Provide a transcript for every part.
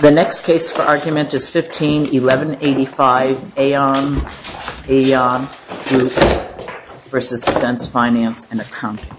The next case for argument is 15-1185 AEON Group v. Defense Finance and Accounting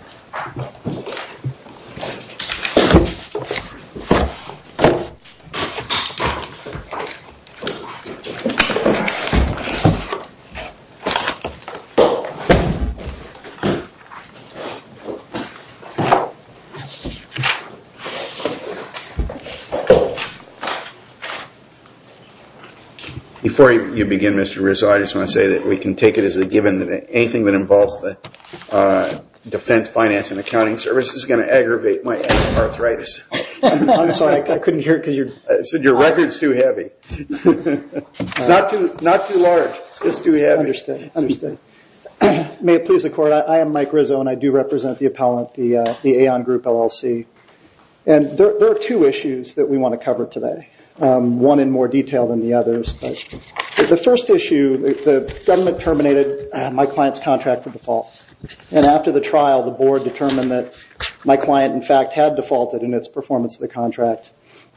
Before you begin, Mr. Rizzo, I just want to say that we can take it as a given that anything that involves the Defense Finance and Accounting Service is going to aggravate my arthritis. I'm sorry, I couldn't hear it because your... I said your record is too heavy. Not too large, just too heavy. Understood, understood. May it please the court, I am Mike Rizzo and I do represent the appellant, the AEON Group, LLC. And there are two issues that we want to cover today, one in more detail than the others. The first issue, the government terminated my client's contract for default. And after the trial, the board determined that my client, in fact, had defaulted in its performance of the contract.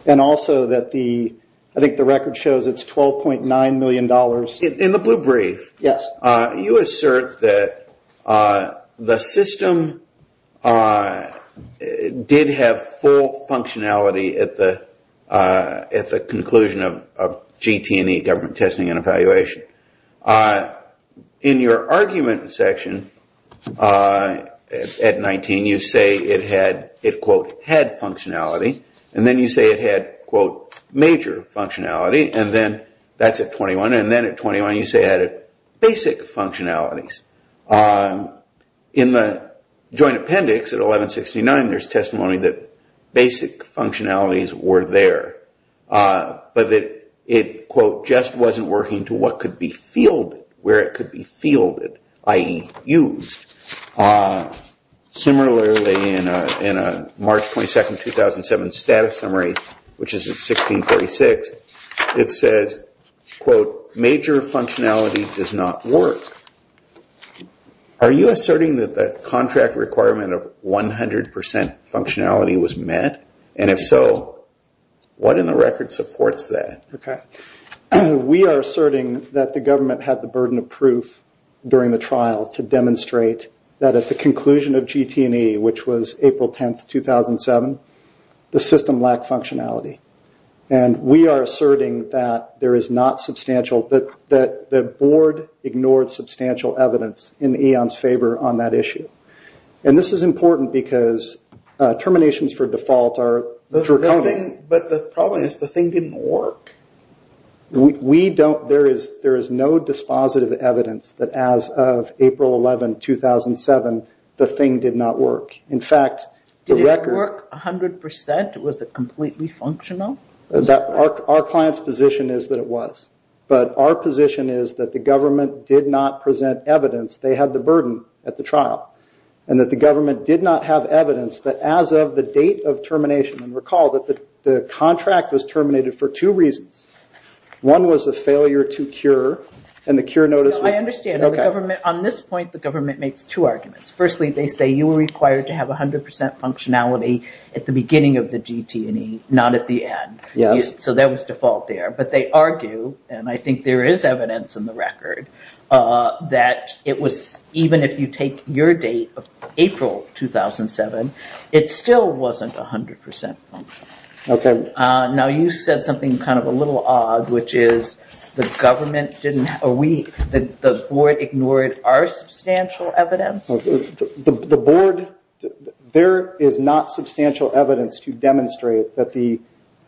And also that the, I think the record shows it's $12.9 million. In the blue brief, you assert that the system did have full functionality at the conclusion of GT&E government testing and evaluation. In your argument section at 19, you say it had, it quote, had functionality. And then you say it had, quote, major functionality. And then that's at 21. And then at 21, you say it had basic functionalities. In the joint appendix at 1169, there's testimony that basic functionalities were there. But that it, quote, just wasn't working to what could be fielded, where it could be fielded, i.e. used. Similarly, in a March 22, 2007 status summary, which is at 1646, it says, quote, major functionality does not work. Are you asserting that the contract requirement of 100% functionality was met? And if so, what in the record supports that? We are asserting that the government had the burden of proof during the trial to demonstrate that at the conclusion of GT&E, which was April 10, 2007, the system lacked functionality. And we are asserting that there is not substantial, that the board ignored substantial evidence in Eon's favor on that issue. And this is important because terminations for default are draconian. But the problem is the thing didn't work. There is no dispositive evidence that as of April 11, 2007, the thing did not work. Did it work 100%? Was it completely functional? Our client's position is that it was. But our position is that the government did not present evidence they had the burden at the trial. And that the government did not have evidence that as of the date of termination, and recall that the contract was terminated for two reasons. One was a failure to cure, and the cure notice was... I understand. On this point, the government makes two arguments. Firstly, they say you were required to have 100% functionality at the beginning of the GT&E, not at the end. So that was default there. But they argue, and I think there is evidence in the record, that even if you take your date of April 2007, it still wasn't 100% functional. Okay. Now you said something kind of a little odd, which is the board ignored our substantial evidence? The board, there is not substantial evidence to demonstrate that the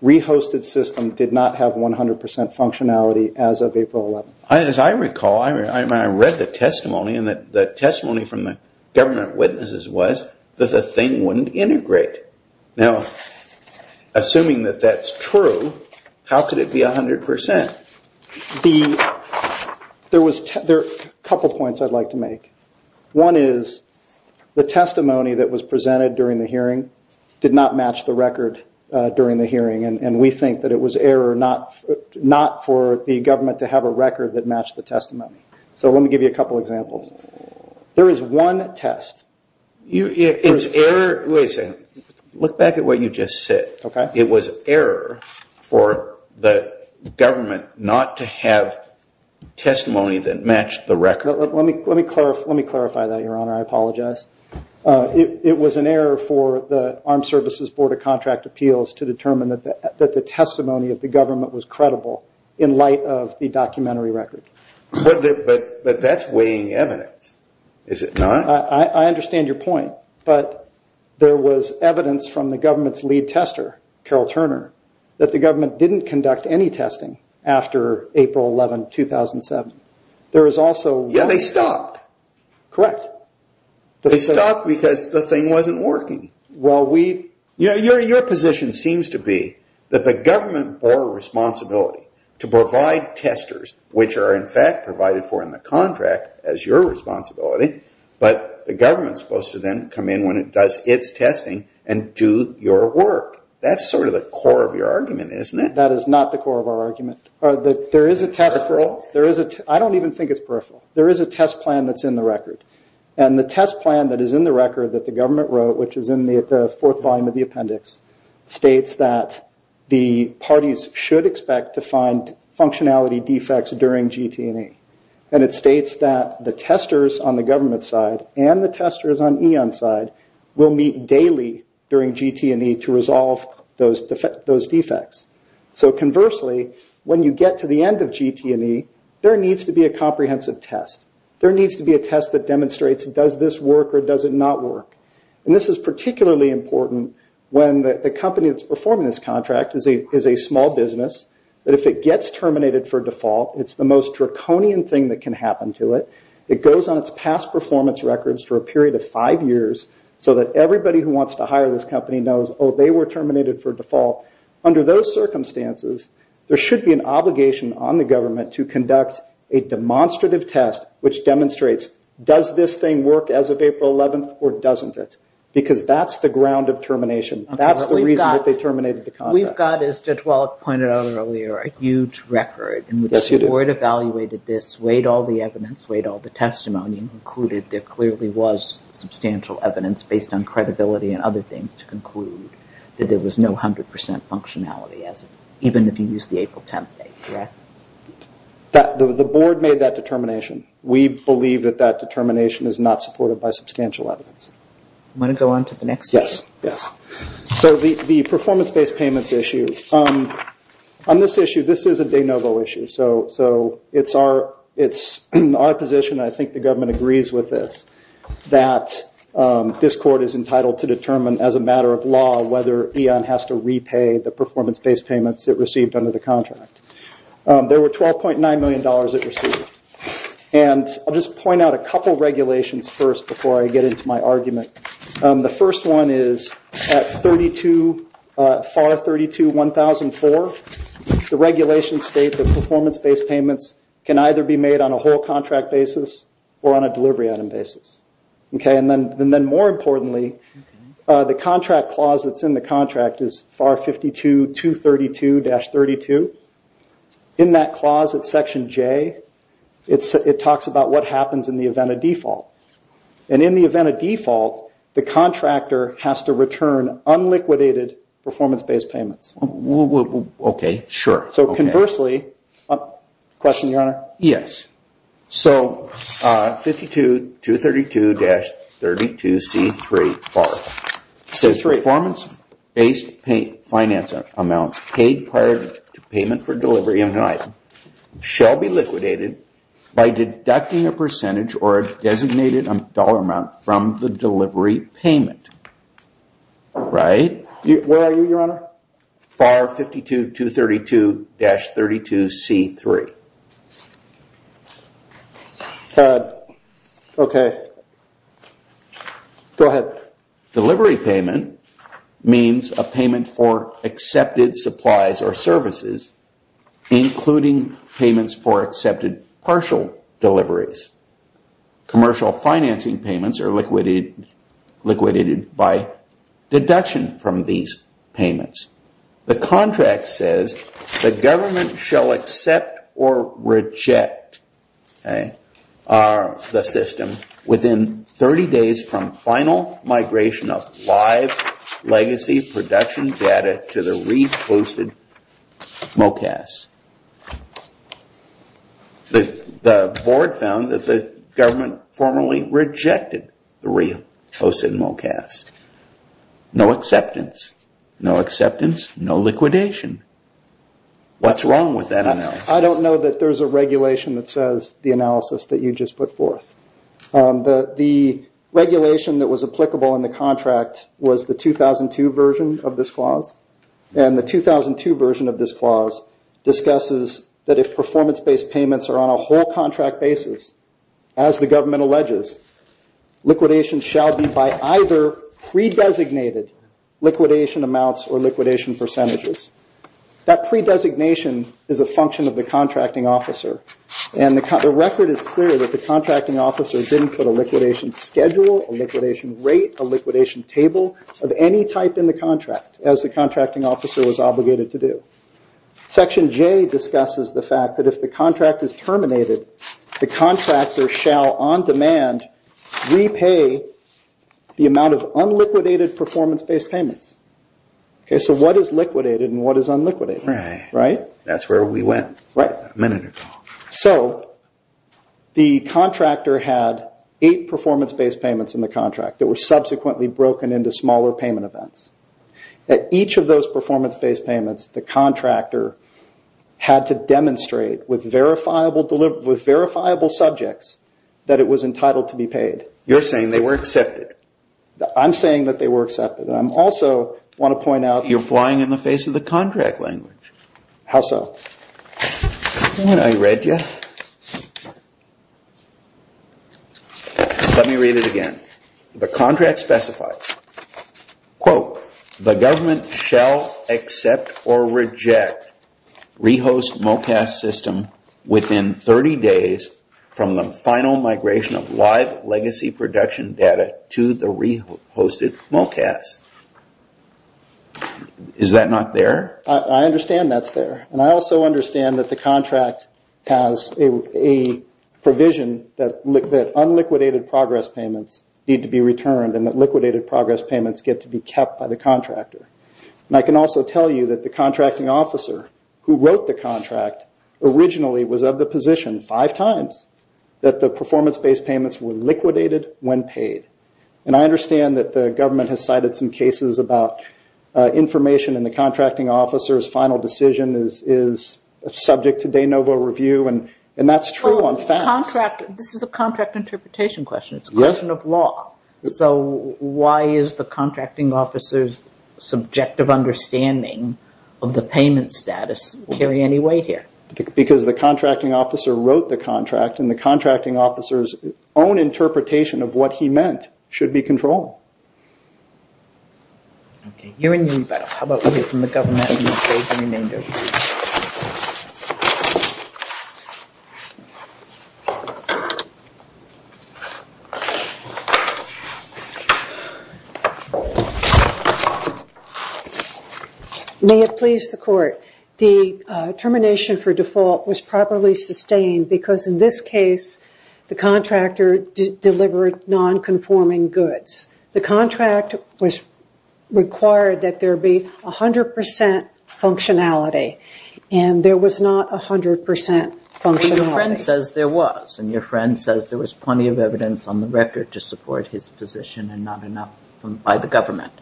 re-hosted system did not have 100% functionality as of April 11. As I recall, I read the testimony, and the testimony from the government witnesses was that the thing wouldn't integrate. Now, assuming that that's true, how could it be 100%? There are a couple of points I'd like to make. One is, the testimony that was presented during the hearing did not match the record during the hearing, and we think that it was error not for the government to have a record that matched the testimony. So let me give you a couple of examples. There is one test. It's error... Wait a second. Look back at what you just said. Okay. It was error for the government not to have testimony that matched the record. Let me clarify that, Your Honor. I apologize. It was an error for the Armed Services Board of Contract Appeals to determine that the testimony of the government was credible in light of the documentary record. But that's weighing evidence, is it not? I understand your point, but there was evidence from the government's lead tester, Carol Turner, that the government didn't conduct any testing after April 11, 2007. Yeah, they stopped. Correct. They stopped because the thing wasn't working. Your position seems to be that the government bore responsibility to provide testers, which are in fact provided for in the contract as your responsibility, but the government is supposed to then come in when it does its testing and do your work. That's sort of the core of your argument, isn't it? That is not the core of our argument. Peripheral? I don't even think it's peripheral. There is a test plan that's in the record. The test plan that is in the record that the government wrote, which is in the fourth volume of the appendix, states that the parties should expect to find functionality defects during GT&E. It states that the testers on the government side and the testers on EON's side will meet daily during GT&E to resolve those defects. Conversely, when you get to the end of GT&E, there needs to be a comprehensive test. There needs to be a test that demonstrates does this work or does it not work. This is particularly important when the company that's performing this contract is a small business. If it gets terminated for default, it's the most draconian thing that can happen to it. It goes on its past performance records for a period of five years so that everybody who wants to hire this company knows, oh, they were terminated for default. Under those circumstances, there should be an obligation on the government to conduct a demonstrative test which demonstrates, does this thing work as of April 11th or doesn't it? Because that's the ground of termination. That's the reason that they terminated the contract. We've got, as Judge Wallach pointed out earlier, a huge record. Yes, we do. The board evaluated this, weighed all the evidence, weighed all the testimony, and concluded there clearly was substantial evidence based on credibility and other things to conclude that there was no 100% functionality even if you used the April 10th date, correct? The board made that determination. We believe that that determination is not supported by substantial evidence. Do you want to go on to the next issue? Yes. The performance-based payments issue. On this issue, this is a de novo issue. It's our position, and I think the government agrees with this, that this court is entitled to determine as a matter of law whether EON has to repay the performance-based payments it received under the contract. There were $12.9 million it received. I'll just point out a couple of regulations first before I get into my argument. The first one is FAR 32-1004. The regulations state that performance-based payments can either be made on a whole contract basis or on a delivery item basis. Then, more importantly, the contract clause that's in the contract is FAR 52-232-32. In that clause, it's Section J. It talks about what happens in the event of default. In the event of default, the contractor has to return unliquidated performance-based payments. Okay, sure. Conversely, question, Your Honor? Yes. So, 52-232-32C3, FAR. It says, performance-based finance amounts paid prior to payment for delivery on an item shall be liquidated by deducting a percentage or a designated dollar amount from the delivery payment. Right. Where are you, Your Honor? FAR 52-232-32C3. Okay. Go ahead. Delivery payment means a payment for accepted supplies or services, including payments for accepted partial deliveries. Commercial financing payments are liquidated by deduction from these payments. The contract says the government shall accept or reject the system within 30 days from final migration of live legacy production data to the reposted MOCAS. The board found that the government formally rejected the reposted MOCAS. No acceptance. No acceptance, no liquidation. What's wrong with that analysis? I don't know that there's a regulation that says the analysis that you just put forth. The regulation that was applicable in the contract was the 2002 version of this clause, and the 2002 version of this clause discusses that if performance-based payments are on a whole contract basis, as the government alleges, liquidation shall be by either pre-designated liquidation amounts or liquidation percentages. That pre-designation is a function of the contracting officer, and the record is clear that the contracting officer didn't put a liquidation schedule, a liquidation rate, a liquidation table of any type in the contract, as the contracting officer was obligated to do. Section J discusses the fact that if the contract is terminated, the contractor shall, on demand, repay the amount of unliquidated performance-based payments. What is liquidated and what is unliquidated? That's where we went a minute ago. The contractor had eight performance-based payments in the contract that were subsequently broken into smaller payment events. At each of those performance-based payments, the contractor had to demonstrate with verifiable subjects that it was entitled to be paid. You're saying they were accepted. I'm saying that they were accepted. I also want to point out... You're flying in the face of the contract language. How so? When I read you, let me read it again. The contract specifies, quote, the government shall accept or reject re-host MOCAS system within 30 days from the final migration of live legacy production data to the re-hosted MOCAS. Is that not there? I understand that's there. I also understand that the contract has a provision that unliquidated progress payments need to be returned and that liquidated progress payments get to be kept by the contractor. I can also tell you that the contracting officer who wrote the contract originally was of the position five times that the performance-based payments were liquidated when paid. I understand that the government has cited some cases about information and the contracting officer's final decision is subject to de novo review. That's true on facts. This is a contract interpretation question. It's a question of law. Why is the contracting officer's subjective understanding of the payment status carry any weight here? Because the contracting officer wrote the contract and the contracting officer's own interpretation of what he meant should be controlled. Okay. You're in unibail. How about we hear from the government and we'll save the remainder. May it please the court. The termination for default was properly sustained because in this case the contractor delivered non-conforming goods. The contract was required that there be 100% functionality and there was not 100% functionality. Your friend says there was and your friend says there was plenty of evidence on the record to support his position and not enough by the government.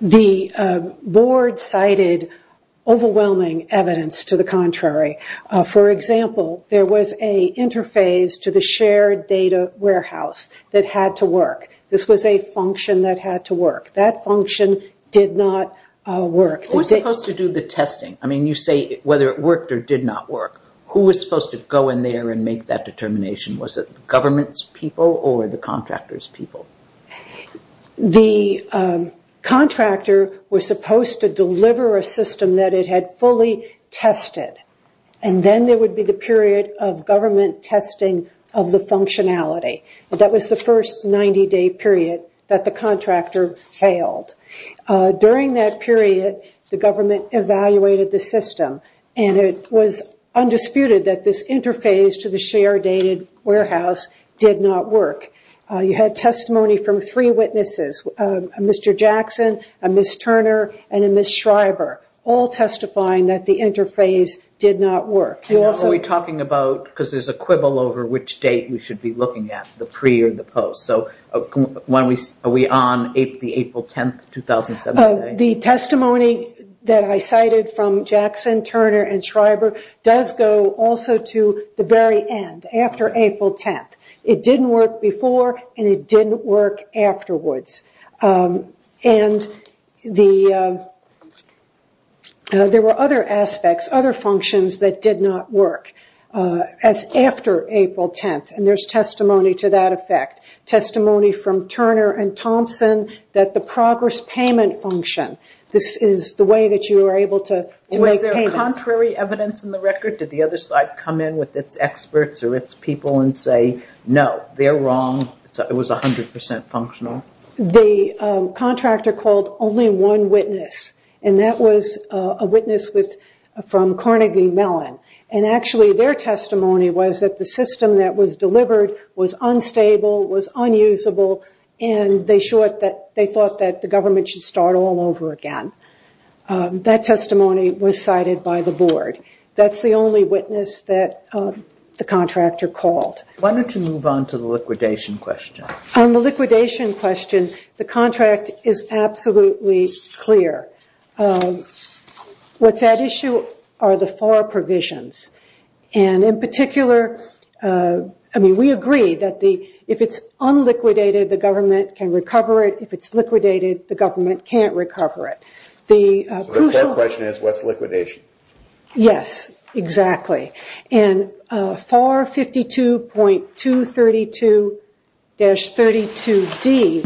The board cited overwhelming evidence to the contrary. For example, there was an interface to the shared data warehouse that had to work. This was a function that had to work. That function did not work. Who was supposed to do the testing? I mean you say whether it worked or did not work. Who was supposed to go in there and make that determination? Was it the government's people or the contractor's people? The contractor was supposed to deliver a system that it had fully tested and then there would be the period of government testing of the functionality. That was the first 90-day period that the contractor failed. During that period the government evaluated the system and it was undisputed that this interface to the shared data warehouse did not work. You had testimony from three witnesses, a Mr. Jackson, a Ms. Turner, and a Ms. Schreiber, all testifying that the interface did not work. Are we talking about, because there's a quibble over which date we should be looking at, the pre or the post, so are we on the April 10th, 2017? The testimony that I cited from Jackson, Turner, and Schreiber does go also to the very end, after April 10th. It didn't work before and it didn't work afterwards. There were other aspects, other functions that did not work after April 10th and there's testimony to that effect. Testimony from Turner and Thompson that the progress payment function, this is the way that you were able to make payments. Was there contrary evidence in the record? Did the other side come in with its experts or its people and say, no, they're wrong, it was 100% functional? The contractor called only one witness and that was a witness from Carnegie Mellon. Actually, their testimony was that the system that was delivered was unstable, was unusable, and they thought that the government should start all over again. That testimony was cited by the board. That's the only witness that the contractor called. Why don't you move on to the liquidation question? On the liquidation question, the contract is absolutely clear. What's at issue are the four provisions. In particular, we agree that if it's unliquidated, the government can recover it. If it's liquidated, the government can't recover it. The core question is what's liquidation? Yes, exactly. FAR 52.232-32D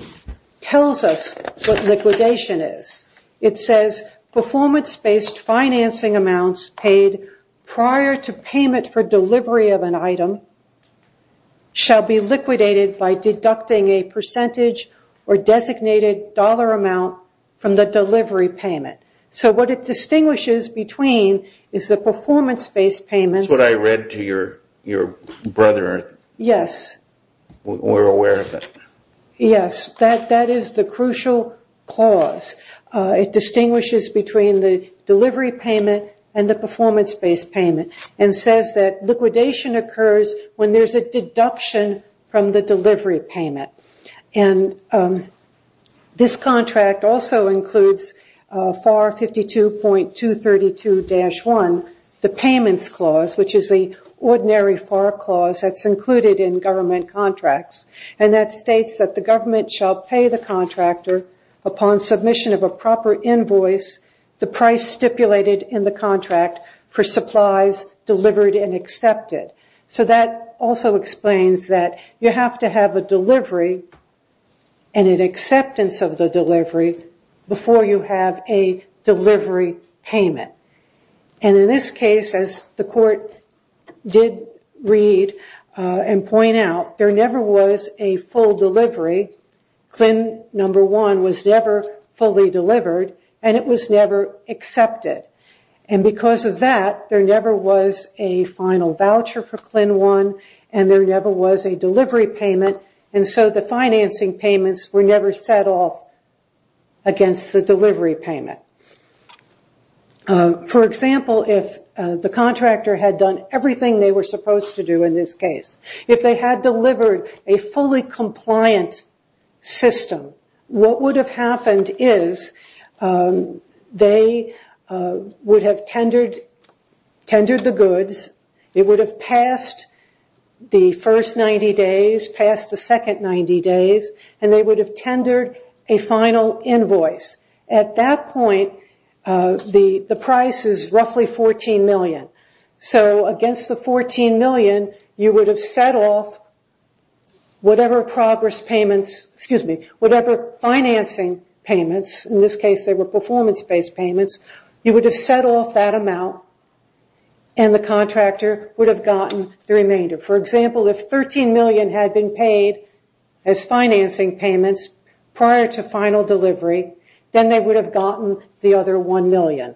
tells us what liquidation is. It says performance-based financing amounts paid prior to payment for delivery of an item shall be liquidated by deducting a percentage or designated dollar amount from the delivery payment. What it distinguishes between is the performance-based payments. That's what I read to your brother. Yes. We're aware of it. Yes, that is the crucial clause. It distinguishes between the delivery payment and the performance-based payment and says that liquidation occurs when there's a deduction from the delivery payment. This contract also includes FAR 52.232-1, the payments clause, which is the ordinary FAR clause that's included in government contracts. That states that the government shall pay the contractor upon submission of a proper invoice the price stipulated in the contract for supplies delivered and accepted. That also explains that you have to have a delivery and an acceptance of the delivery before you have a delivery payment. In this case, as the court did read and point out, there never was a full delivery. CLIN number one was never fully delivered, and it was never accepted. Because of that, there never was a final voucher for CLIN one, and there never was a delivery payment, and so the financing payments were never set up against the delivery payment. For example, if the contractor had done everything they were supposed to do in this case, if they had delivered a fully compliant system, what would have happened is they would have tendered the goods, it would have passed the first 90 days, passed the second 90 days, and they would have tendered a final invoice. At that point, the price is roughly $14 million. Against the $14 million, you would have set off whatever financing payments, in this case they were performance-based payments, you would have set off that amount and the contractor would have gotten the remainder. For example, if $13 million had been paid as financing payments prior to final delivery, then they would have gotten the other $1 million.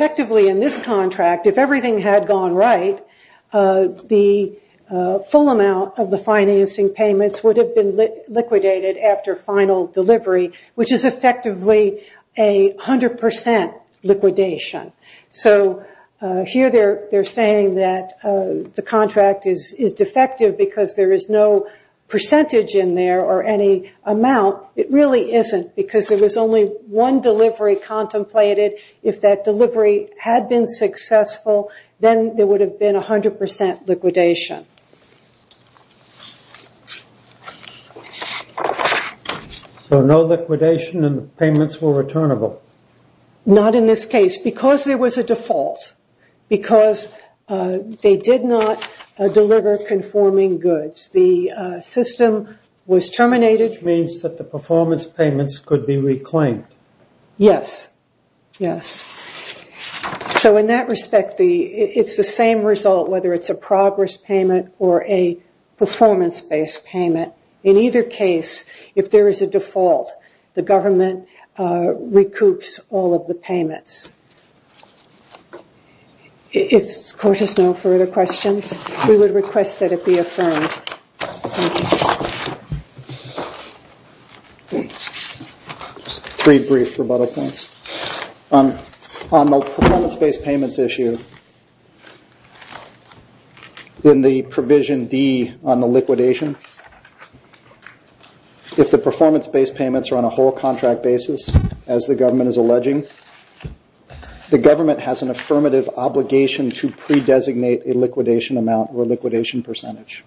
Effectively, in this contract, if everything had gone right, the full amount of the financing payments would have been liquidated after final delivery, which is effectively a 100% liquidation. Here they are saying that the contract is defective because there is no percentage in there or any amount. It really isn't because there was only one delivery contemplated. If that delivery had been successful, then there would have been a 100% liquidation. So no liquidation and the payments were returnable? Not in this case. It's because there was a default, because they did not deliver conforming goods. The system was terminated. Which means that the performance payments could be reclaimed. Yes. So in that respect, it's the same result, whether it's a progress payment or a performance-based payment. In either case, if there is a default, the government recoups all of the payments. If the court has no further questions, we would request that it be affirmed. Three brief rebuttal points. On the performance-based payments issue, in the provision D on the liquidation, if the performance-based payments are on a whole contract basis, as the government is alleging, the government has an affirmative obligation to pre-designate a liquidation amount or liquidation percentage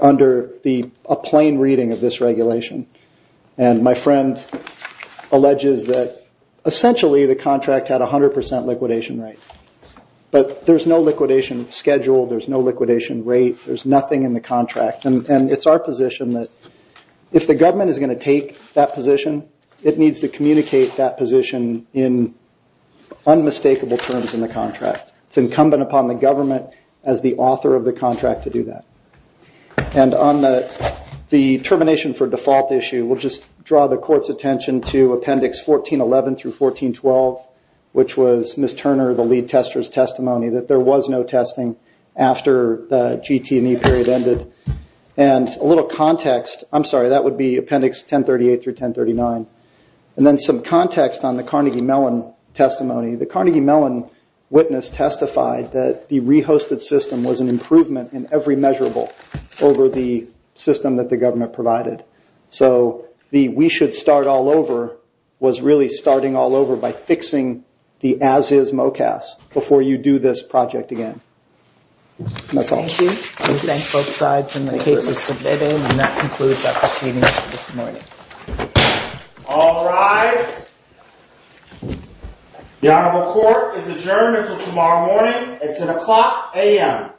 under a plain reading of this regulation. My friend alleges that essentially the contract had a 100% liquidation rate. But there's no liquidation schedule, there's no liquidation rate, there's nothing in the contract. It's our position that if the government is going to take that position, it needs to communicate that position in unmistakable terms in the contract. It's incumbent upon the government as the author of the contract to do that. And on the termination for default issue, we'll just draw the court's attention to Appendix 1411 through 1412, which was Ms. Turner, the lead tester's testimony, that there was no testing after the GT&E period ended. And a little context. I'm sorry, that would be Appendix 1038 through 1039. And then some context on the Carnegie Mellon testimony. The Carnegie Mellon witness testified that the re-hosted system was an improvement in every measurable over the system that the government provided. So the we should start all over was really starting all over by fixing the as-is MOCAS before you do this project again. And that's all. Thank you. We thank both sides and the cases submitted. And that concludes our proceedings for this morning. All rise. The honorable court is adjourned until tomorrow morning. It's an o'clock a.m.